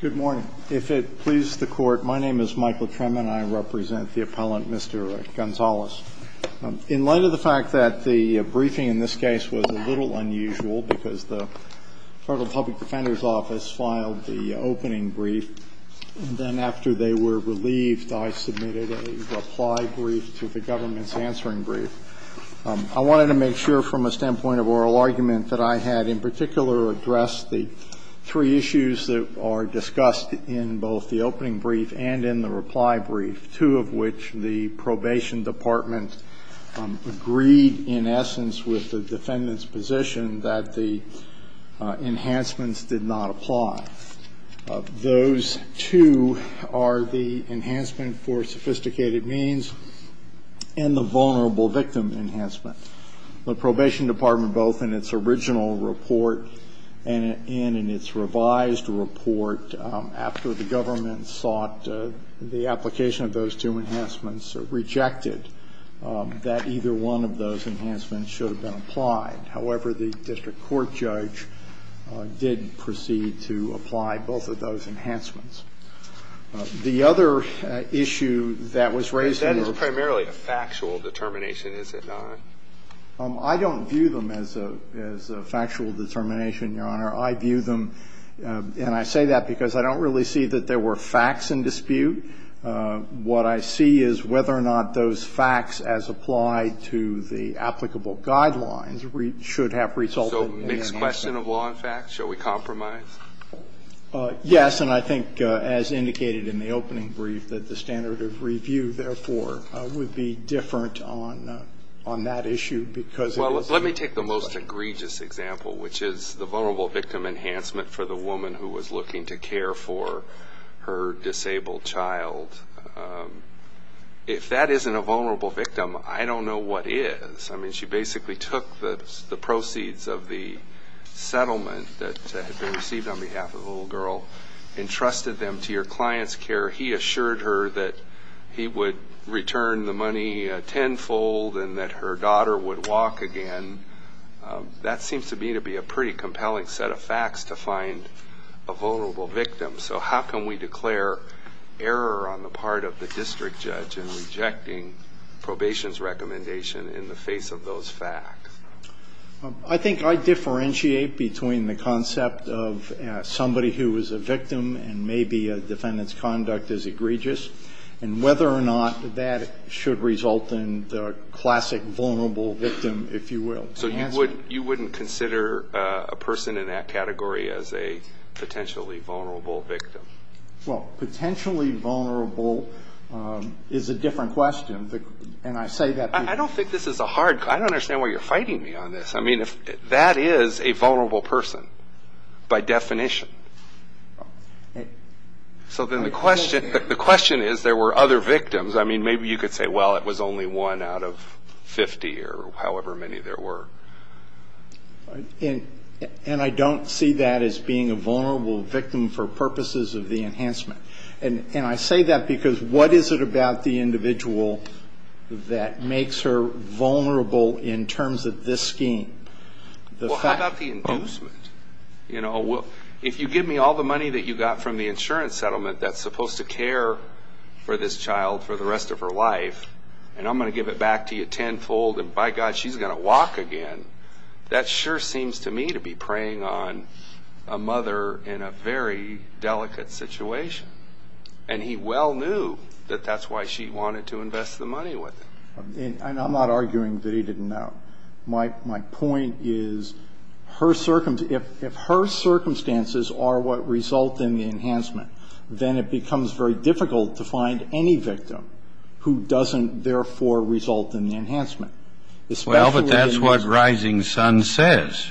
Good morning. If it pleases the Court, my name is Michael Tremann. I represent the appellant, Mr. Gonzalez. In light of the fact that the briefing in this case was a little unusual because the Federal Public Defender's Office filed the opening brief, and then after they were relieved, I submitted a reply brief to the government's answering brief, I wanted to make sure from a standpoint of oral argument that I had in particular addressed the three issues that are discussed in both the opening brief and in the reply brief, two of which the probation department agreed, in essence, with the defendant's position that the enhancements did not apply. Those two are the enhancement for sophisticated means and the vulnerable victim enhancement. The probation department, both in its original report and in its revised report after the government sought the application of those two enhancements, rejected that either one of those enhancements should have been applied. However, the district court judge did proceed to apply both of those enhancements. The other issue that was raised in the report was that it was primarily a factual determination, is it not? I don't view them as a factual determination, Your Honor. I view them, and I say that because I don't really see that there were facts in dispute. What I see is whether or not those facts as applied to the applicable guidelines should have resulted in enhancements. So mixed question of law and facts? Shall we compromise? Yes, and I think, as indicated in the opening brief, that the standard of review, therefore, would be different on that issue because it is a mixed question. Well, let me take the most egregious example, which is the vulnerable victim enhancement for the woman who was looking to care for her disabled child. If that isn't a vulnerable victim, I don't know what is. I mean, she basically took the proceeds of the settlement that had been received on behalf of the little girl, entrusted them to your client's care. He assured her that he would return the money tenfold and that her daughter would walk again. That seems to me to be a pretty compelling set of facts to find a vulnerable victim. So how can we declare error on the part of the district judge in rejecting probation's recommendation in the face of those facts? I think I differentiate between the concept of somebody who is a victim and maybe a defendant's conduct is egregious and whether or not that should result in the classic vulnerable victim, if you will, enhancement. So you wouldn't consider a person in that category as a potentially vulnerable victim? Well, potentially vulnerable is a different question. And I say that because you're fighting me on this. I mean, that is a vulnerable person by definition. So then the question is there were other victims. I mean, maybe you could say, well, it was only one out of 50 or however many there were. And I don't see that as being a vulnerable victim for purposes of the enhancement. And I say that because what is it about the individual that makes her vulnerable in terms of this scheme? Well, how about the inducement? If you give me all the money that you got from the insurance settlement that's supposed to care for this child for the rest of her life and I'm going to give it back to you tenfold and, by God, she's going to walk again, that sure seems to me to be preying on a mother in a very delicate situation. And he well knew that that's why she wanted to invest the money with him. And I'm not arguing that he didn't know. My point is if her circumstances are what result in the enhancement, then it becomes very difficult to find any victim who doesn't, therefore, result in the enhancement. Well, but that's what Rising Sun says.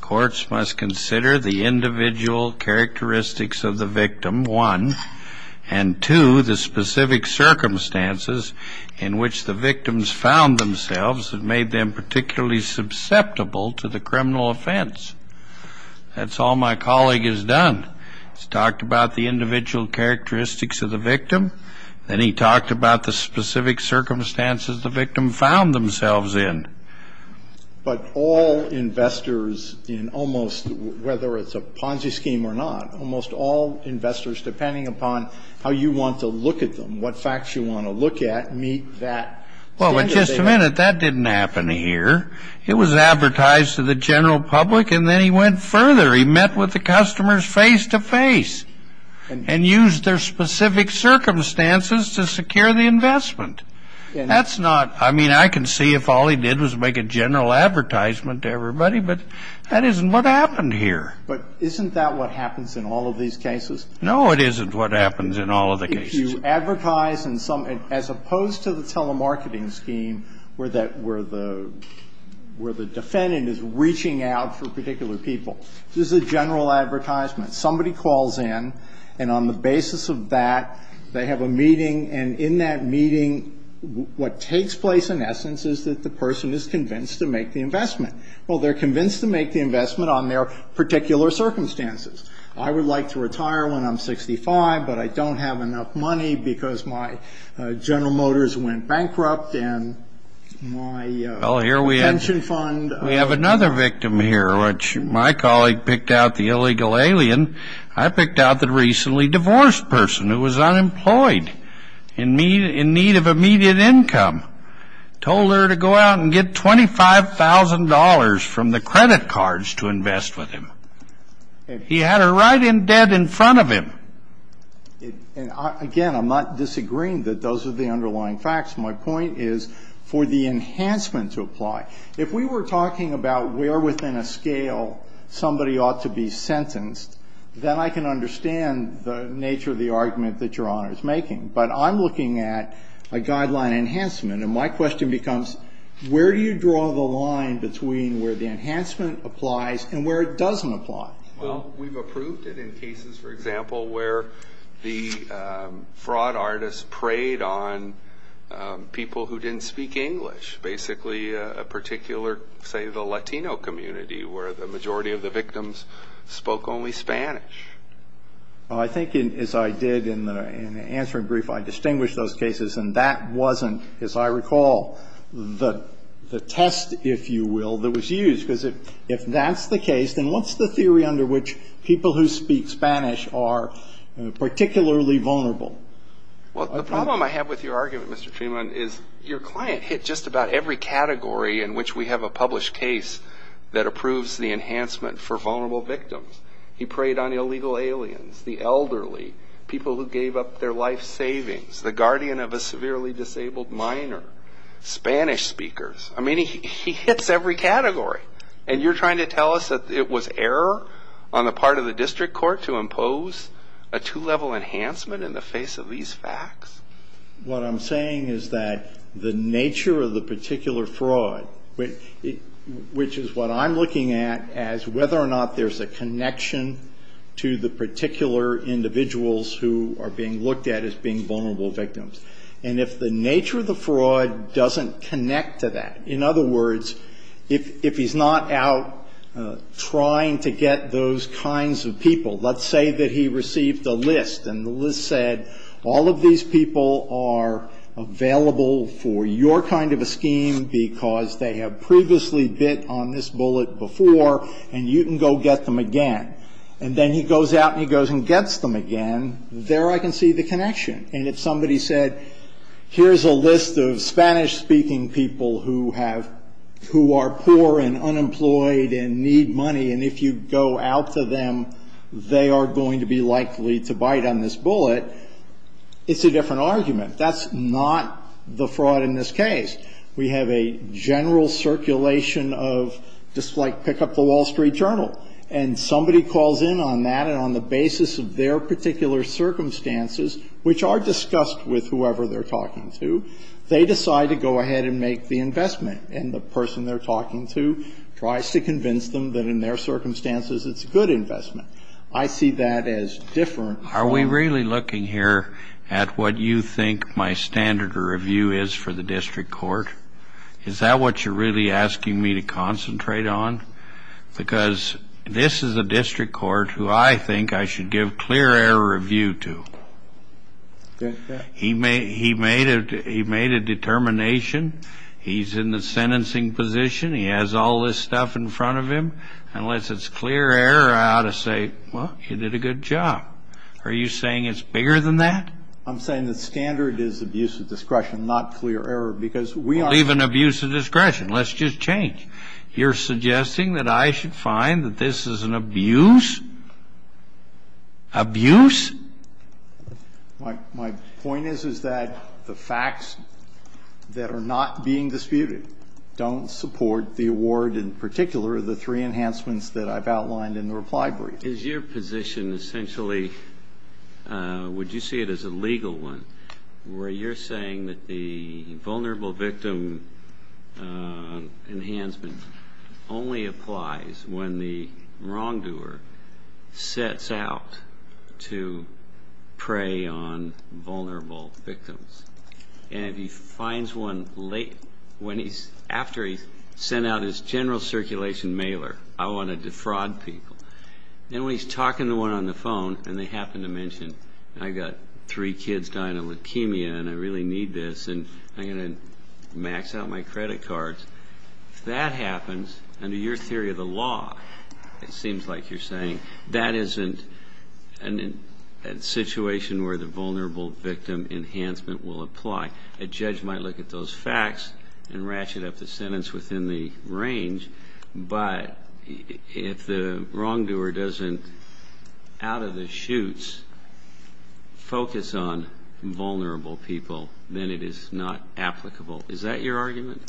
Courts must consider the individual characteristics of the victim, one, and two, the specific circumstances in which the victims found themselves that made them particularly susceptible to the criminal offense. That's all my colleague has done. He's talked about the individual characteristics of the victim. Then he talked about the specific circumstances the victim found themselves in. But all investors in almost whether it's a Ponzi scheme or not, almost all investors, depending upon how you want to look at them, what facts you want to look at, meet that standard. Well, but just a minute, that didn't happen here. It was advertised to the general public, and then he went further. He met with the customers face to face and used their specific circumstances to secure the investment. That's not, I mean, I can see if all he did was make a general advertisement to everybody, but that isn't what happened here. But isn't that what happens in all of these cases? No, it isn't what happens in all of the cases. If you advertise in some, as opposed to the telemarketing scheme where that, where the defendant is reaching out for particular people. This is a general advertisement. Somebody calls in, and on the basis of that, they have a meeting, and in that meeting, what takes place in essence is that the person is convinced to make the investment. Well, they're convinced to make the investment on their particular circumstances. I would like to retire when I'm 65, but I don't have enough money because my General Motors went bankrupt, and my pension fund. Well, here we have another victim here, which my colleague picked out, the illegal alien. I picked out the recently divorced person who was unemployed in need of immediate income, told her to go out and get $25,000 from the credit cards to invest with him. He had her right in dead in front of him. Again, I'm not disagreeing that those are the underlying facts. My point is for the enhancement to apply. If we were talking about where within a scale somebody ought to be sentenced, then I can understand the nature of the argument that Your Honor is making. But I'm looking at a guideline enhancement, and my question becomes, where do you draw the line between where the enhancement applies and where it doesn't apply? Well, we've approved it in cases, for example, where the fraud artists preyed on people who didn't speak English, basically a particular, say, the Latino community, where the majority of the victims spoke only Spanish. Well, I think as I did in the answering brief, I distinguished those cases, and that wasn't, as I recall, the test, if you will, that was used. Because if that's the case, then what's the theory under which people who speak Spanish are particularly vulnerable? Well, the problem I have with your argument, Mr. Freeman, is your client hit just about every category in which we have a published case that approves the enhancement for vulnerable victims. He preyed on illegal aliens, the elderly, people who gave up their life savings, the guardian of a severely disabled minor, Spanish speakers. I mean, he hits every category. And you're trying to tell us that it was error on the part of the district court to impose a two-level enhancement in the face of these facts? What I'm saying is that the nature of the particular fraud, which is what I'm looking at as whether or not there's a connection to the particular individuals who are being looked at as being vulnerable victims. And if the nature of the fraud doesn't connect to that, in other words, if he's not out trying to get those kinds of people, let's say that he received a list, and the list said, all of these people are available for your kind of a scheme because they have previously bit on this bullet before, and you can go get them again. And then he goes out and he goes and gets them again. There I can see the connection. And if somebody said, here's a list of Spanish-speaking people who have, who are poor and unemployed and need money, and if you go out to them, they are going to be likely to bite on this bullet, it's a different argument. That's not the fraud in this case. We have a general circulation of just like pick up the Wall Street Journal. And somebody calls in on that, and on the basis of their particular circumstances, which are discussed with whoever they're talking to, they decide to go ahead and make the investment. And the person they're talking to tries to convince them that in their circumstances it's a good investment. I see that as different. Are we really looking here at what you think my standard of review is for the district court? Is that what you're really asking me to concentrate on? Because this is a district court who I think I should give clear air review to. He made a determination. He's in the sentencing position. He has all this stuff in front of him. Unless it's clear air, I ought to say, well, you did a good job. Are you saying it's bigger than that? I'm saying the standard is abuse of discretion, not clear error, because we are. Well, even abuse of discretion. Let's just change. You're suggesting that I should find that this is an abuse? Abuse? My point is, is that the facts that are not being disputed don't support the award, and in particular the three enhancements that I've outlined in the reply brief. Is your position essentially, would you see it as a legal one, where you're saying that the vulnerable victim enhancement only applies when the wrongdoer sets out to prey on vulnerable victims? And if he finds one after he's sent out his general circulation mailer, I want to defraud people. Then when he's talking to one on the phone and they happen to mention, I've got three kids dying of leukemia and I really need this and I'm going to max out my credit cards. If that happens, under your theory of the law, it seems like you're saying that isn't a situation where the vulnerable victim enhancement will apply. A judge might look at those facts and ratchet up the sentence within the range, but if the wrongdoer doesn't out of the chutes focus on vulnerable people, then it is not applicable. Is that your argument?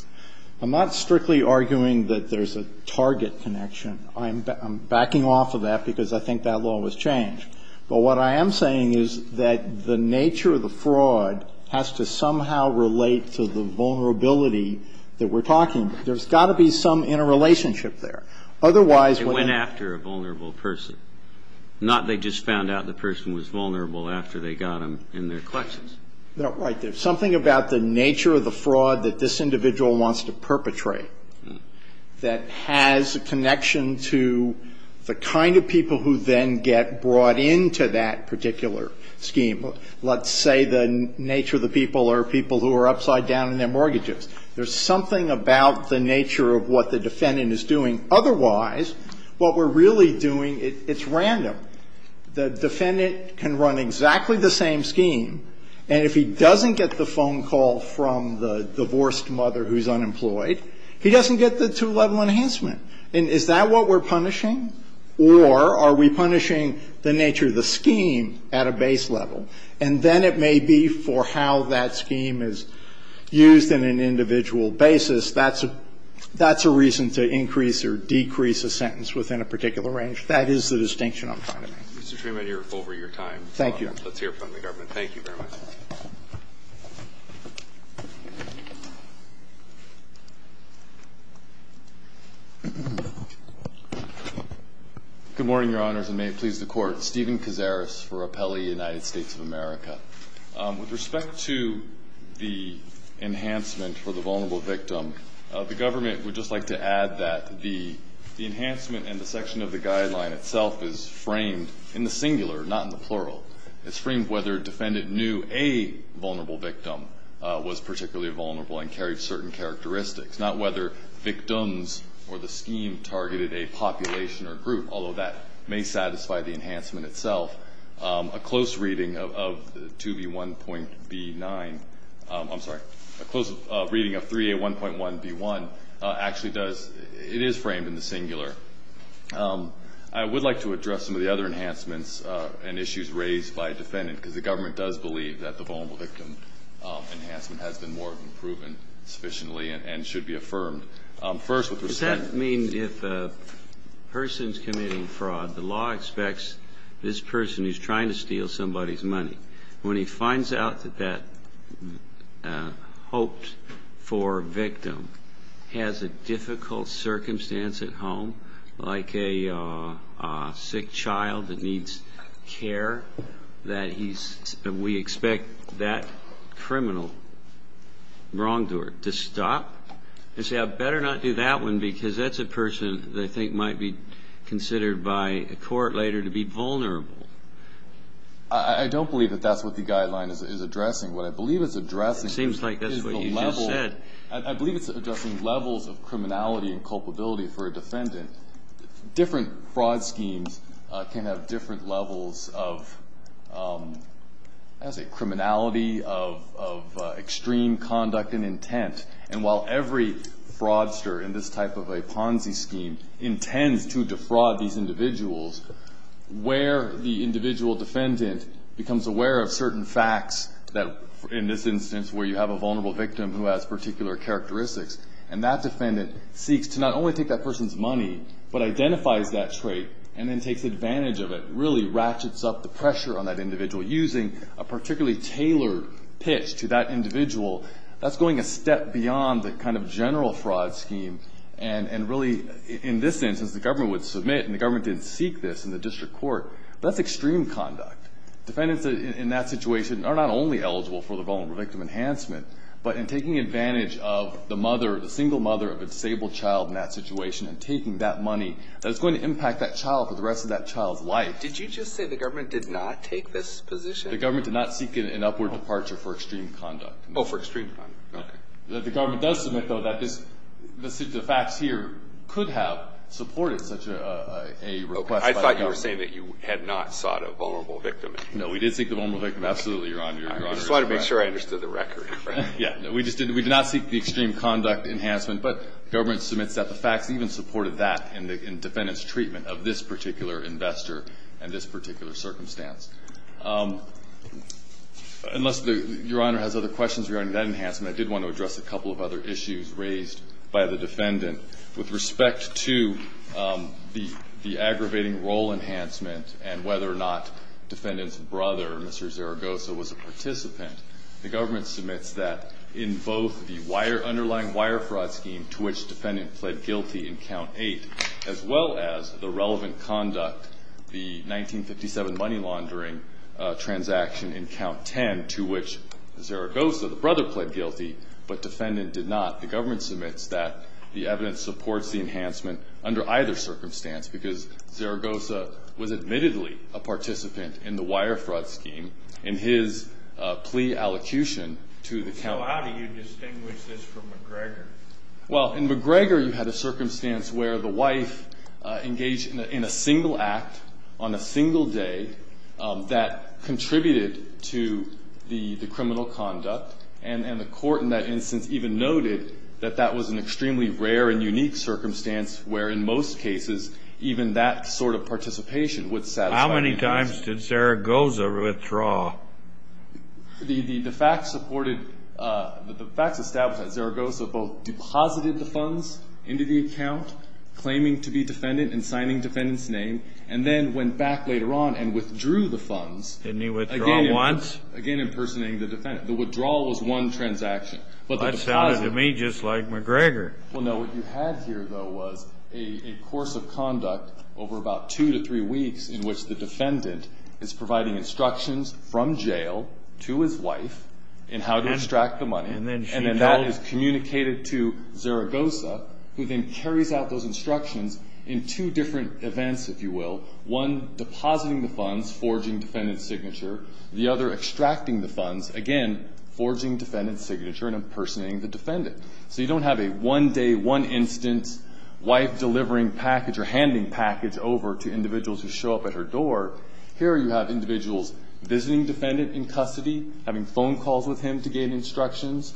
I'm not strictly arguing that there's a target connection. I'm backing off of that because I think that law was changed. But what I am saying is that the nature of the fraud has to somehow relate to the vulnerability that we're talking about. There's got to be some interrelationship there. They went after a vulnerable person, not they just found out the person was vulnerable after they got them in their collections. Right. There's something about the nature of the fraud that this individual wants to perpetrate that has a connection to the kind of people who then get brought into that particular scheme. Let's say the nature of the people are people who are upside down in their mortgages. There's something about the nature of what the defendant is doing. Otherwise, what we're really doing, it's random. The defendant can run exactly the same scheme, and if he doesn't get the phone call from the divorced mother who's unemployed, he doesn't get the two-level enhancement. And is that what we're punishing, or are we punishing the nature of the scheme at a base level? And then it may be for how that scheme is used in an individual basis. That's a reason to increase or decrease a sentence within a particular range. That is the distinction I'm trying to make. Mr. Freeman, you're over your time. Thank you. Let's hear from the government. Thank you very much. Good morning, Your Honors, and may it please the Court. Stephen Kazaris for Appellee United States of America. With respect to the enhancement for the vulnerable victim, the government would just like to add that the enhancement and the section of the guideline itself is framed in the singular, not in the plural. It's framed whether a defendant knew a vulnerable victim was particularly vulnerable and carried certain characteristics, not whether victims or the scheme targeted a population or group, although that may satisfy the enhancement itself. A close reading of 2B1.B9 – I'm sorry. A close reading of 3A1.1B1 actually does – it is framed in the singular. I would like to address some of the other enhancements and issues raised by a defendant because the government does believe that the vulnerable victim enhancement has been more than proven sufficiently and should be affirmed. First, with respect – Does that mean if a person's committing fraud, the law expects this person who's trying to steal somebody's money, when he finds out that that hoped-for victim has a difficult circumstance at home, like a sick child that needs care, that he's – we expect that criminal wrongdoer to stop and say, I better not do that one because that's a person that I think might be considered by a court later to be vulnerable? I don't believe that that's what the guideline is addressing. What I believe it's addressing is the level – It seems like that's what you just said. I believe it's addressing levels of criminality and culpability for a defendant. Different fraud schemes can have different levels of, I would say, criminality, of extreme conduct and intent. And while every fraudster in this type of a Ponzi scheme intends to defraud these individuals, where the individual defendant becomes aware of certain facts that, in this instance, where you have a vulnerable victim who has particular characteristics, and that defendant seeks to not only take that person's money but identifies that trait and then takes advantage of it, really ratchets up the pressure on that individual, using a particularly tailored pitch to that individual, that's going a step beyond the kind of general fraud scheme and really, in this instance, the government would submit and the government didn't seek this in the district court, but that's extreme conduct. Defendants in that situation are not only eligible for the vulnerable victim enhancement, but in taking advantage of the mother, the single mother of a disabled child in that situation and taking that money, that's going to impact that child for the rest of that child's life. Did you just say the government did not take this position? The government did not seek an upward departure for extreme conduct. Oh, for extreme conduct. Okay. The government does submit, though, that the facts here could have supported such a request by the government. I thought you were saying that you had not sought a vulnerable victim. No, we did seek the vulnerable victim. Absolutely, Your Honor. I just wanted to make sure I understood the record. Yeah. We did not seek the extreme conduct enhancement, but government submits that the facts even supported that in the defendant's treatment of this particular investor and this particular circumstance. Unless Your Honor has other questions regarding that enhancement, I did want to address a couple of other issues raised by the defendant with respect to the aggravating role enhancement and whether or not defendant's brother, Mr. Zaragoza, was a participant. The government submits that in both the underlying wire fraud scheme, to which defendant pled guilty in Count 8, as well as the relevant conduct, the 1957 money laundering transaction in Count 10, to which Zaragoza, the brother, pled guilty, but defendant did not. The government submits that the evidence supports the enhancement under either circumstance because Zaragoza was admittedly a participant in the wire fraud scheme in his plea allocution to the county. So how do you distinguish this from McGregor? Well, in McGregor you had a circumstance where the wife engaged in a single act on a single day that contributed to the criminal conduct, and the court in that instance even noted that that was an extremely rare and unique circumstance where, in most cases, even that sort of participation would satisfy the interest. How many times did Zaragoza withdraw? The facts supported, the facts established that Zaragoza both deposited the funds into the account, claiming to be defendant and signing defendant's name, and then went back later on and withdrew the funds. Didn't he withdraw once? Again, impersonating the defendant. The withdrawal was one transaction. That sounded to me just like McGregor. Well, no. What you had here, though, was a course of conduct over about two to three weeks in which the defendant is providing instructions from jail to his wife in how to extract the money, and then that is communicated to Zaragoza, who then carries out those instructions in two different events, if you will, one depositing the funds, forging defendant's signature, the other extracting the funds, again, forging defendant's signature and impersonating the defendant. So you don't have a one-day, one-instance wife delivering package or handing package over to individuals who show up at her door. Here you have individuals visiting defendant in custody, having phone calls with him to gain instructions,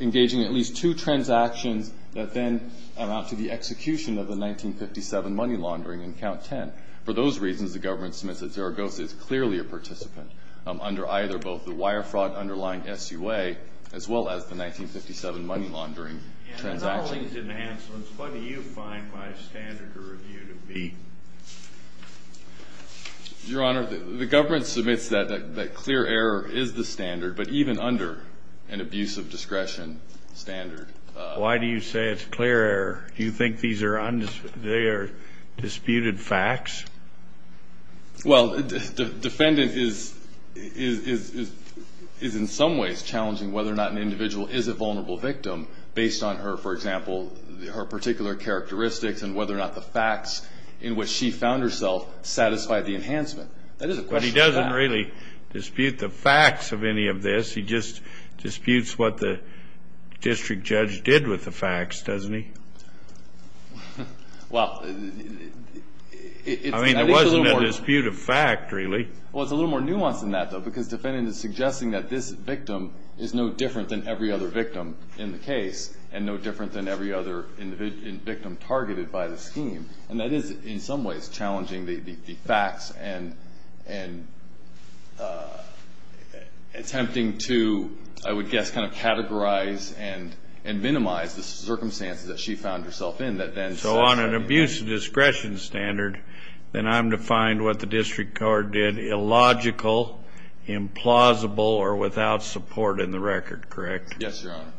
engaging in at least two transactions that then amount to the execution of the 1957 money laundering in Count 10. For those reasons, the government submits that Zaragoza is clearly a participant under either both the wire fraud underlying SUA as well as the 1957 money laundering transaction. In all these enhancements, what do you find my standard to review to be? Your Honor, the government submits that clear error is the standard, but even under an abuse of discretion standard. Why do you say it's clear error? Do you think they are disputed facts? Well, defendant is in some ways challenging whether or not an individual is a vulnerable victim based on her, for example, her particular characteristics and whether or not the facts in which she found herself satisfied the enhancement. That is a question of fact. But he doesn't really dispute the facts of any of this. He just disputes what the district judge did with the facts, doesn't he? Well, it's a little more. I mean, there wasn't a dispute of fact, really. Well, it's a little more nuanced than that, though, because defendant is suggesting that this victim is no different than every other victim in the case and no different than every other victim targeted by the scheme. And that is, in some ways, challenging the facts and attempting to, I would guess, kind of categorize and minimize the circumstances that she found herself in. So on an abuse of discretion standard, then I'm to find what the district court did illogical, implausible, or without support in the record, correct? Yes, Your Honor.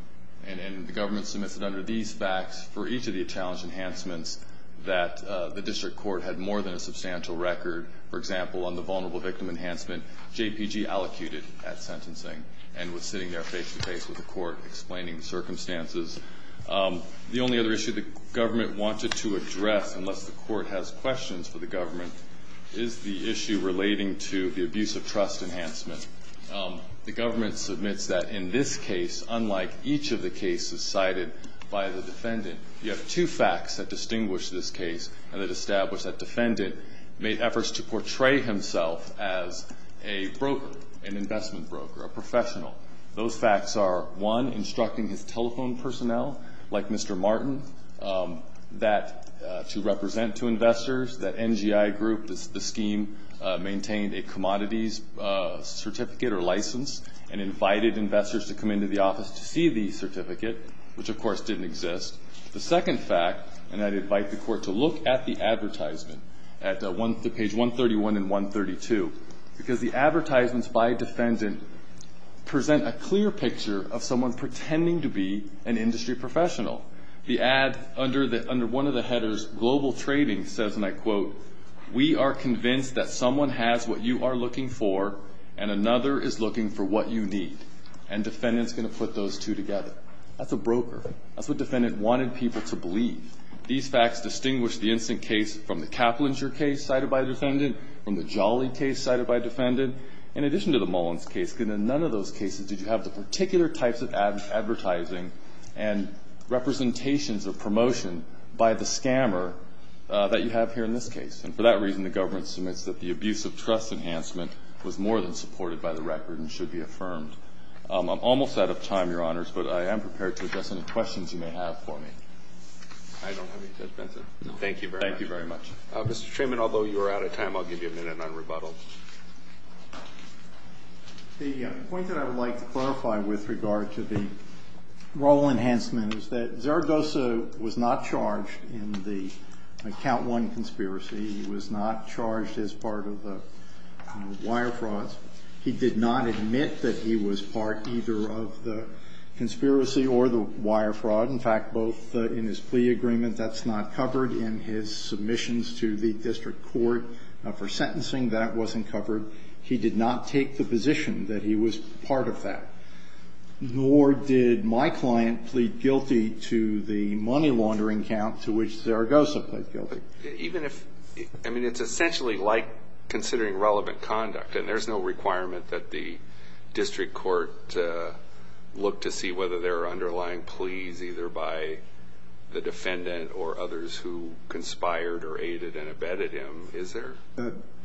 And the government submits it under these facts for each of the challenge enhancements that the district court had more than a substantial record, for example, on the vulnerable victim enhancement JPG allocated at sentencing and was sitting there face-to-face with the court explaining circumstances. The only other issue the government wanted to address, unless the court has questions for the government, is the issue relating to the abuse of trust enhancement. The government submits that in this case, unlike each of the cases cited by the defendant, you have two facts that distinguish this case and that establish that defendant made efforts to portray himself as a broker, an investment broker, a professional. Those facts are, one, instructing his telephone personnel, like Mr. Martin, that to represent to investors that NGI Group, the scheme, maintained a commodities certificate or license and invited investors to come into the office to see the certificate, which, of course, didn't exist. The second fact, and I'd invite the court to look at the advertisement at page 131 and 132, because the advertisements by defendant present a clear picture of someone pretending to be an industry professional. The ad under one of the headers global trading says, and I quote, we are convinced that someone has what you are looking for and another is looking for what you need, and defendant's going to put those two together. That's a broker. That's what defendant wanted people to believe. These facts distinguish the instant case from the Caplinger case cited by defendant, from the Jolly case cited by defendant, in addition to the Mullins case, because in none of those cases did you have the particular types of advertising and representations of promotion by the scammer that you have here in this case. And for that reason, the government submits that the abuse of trust enhancement was more than supported by the record and should be affirmed. I'm almost out of time, Your Honors, but I am prepared to address any questions you may have for me. I don't have any, Judge Benson. Thank you very much. Thank you very much. Mr. Treman, although you are out of time, I'll give you a minute on rebuttal. The point that I would like to clarify with regard to the role enhancement is that Zaragoza was not charged in the Account I conspiracy. He was not charged as part of the wire frauds. He did not admit that he was part either of the conspiracy or the wire fraud. In fact, both in his plea agreement. That's not covered in his submissions to the district court for sentencing. That wasn't covered. He did not take the position that he was part of that. Nor did my client plead guilty to the money laundering account to which Zaragoza pleaded guilty. Even if, I mean, it's essentially like considering relevant conduct, and there's no requirement that the district court look to see whether there are underlying pleas either by the defendant or others who conspired or aided and abetted him, is there?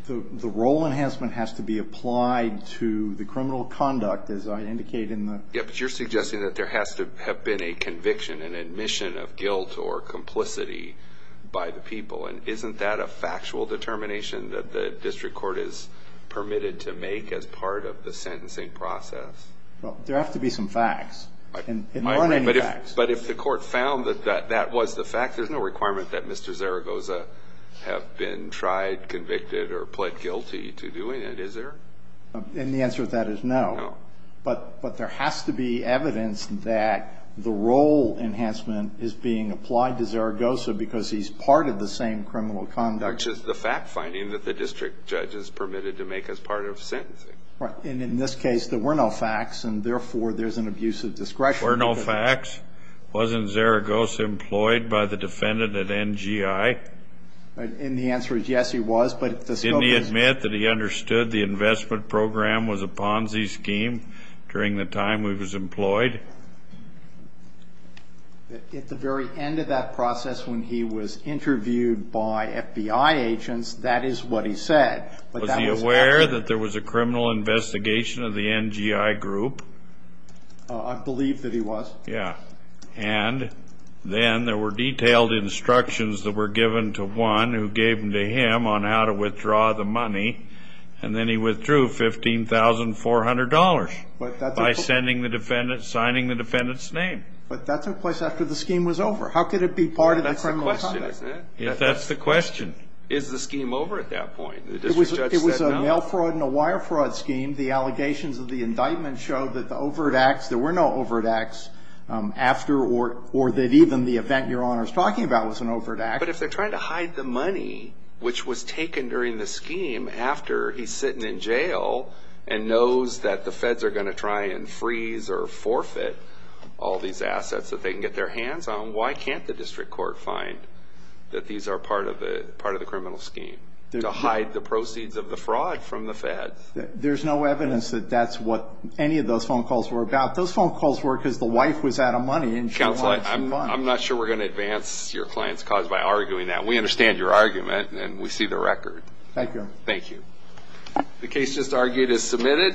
The role enhancement has to be applied to the criminal conduct, as I indicated in the... Yes, but you're suggesting that there has to have been a conviction, an admission of guilt or complicity by the people. And isn't that a factual determination that the district court is permitted to make as part of the sentencing process? Well, there have to be some facts. There aren't any facts. But if the court found that that was the fact, there's no requirement that Mr. Zaragoza have been tried, convicted, or pled guilty to doing it, is there? And the answer to that is no. No. But there has to be evidence that the role enhancement is being applied to Zaragoza because he's part of the same criminal conduct. Which is the fact finding that the district judge is permitted to make as part of sentencing. Right. And in this case, there were no facts, and therefore, there's an abuse of discretion. There were no facts. Wasn't Zaragoza employed by the defendant at NGI? And the answer is yes, he was, but the scope is... Didn't he admit that he understood the investment program was a Ponzi scheme during the time he was employed? At the very end of that process when he was interviewed by FBI agents, that is what he said. Was he aware that there was a criminal investigation of the NGI group? I believe that he was. Yeah. And then there were detailed instructions that were given to one who gave them to him on how to withdraw the money, and then he withdrew $15,400 by signing the defendant's name. But that took place after the scheme was over. How could it be part of the criminal conduct? That's the question, isn't it? Yes, that's the question. Is the scheme over at that point? The district judge said no. It was a mail fraud and a wire fraud scheme. The allegations of the indictment show that the overt acts, there were no overt acts after or that even the event Your Honor is talking about was an overt act. But if they're trying to hide the money, which was taken during the scheme after he's sitting in jail and knows that the feds are going to try and freeze or forfeit all these assets that they can get their hands on, why can't the district court find that these are part of the criminal scheme to hide the proceeds of the fraud from the feds? There's no evidence that that's what any of those phone calls were about. Those phone calls were because the wife was out of money. Counsel, I'm not sure we're going to advance your client's cause by arguing that. We understand your argument, and we see the record. Thank you. Thank you. The case just argued is submitted.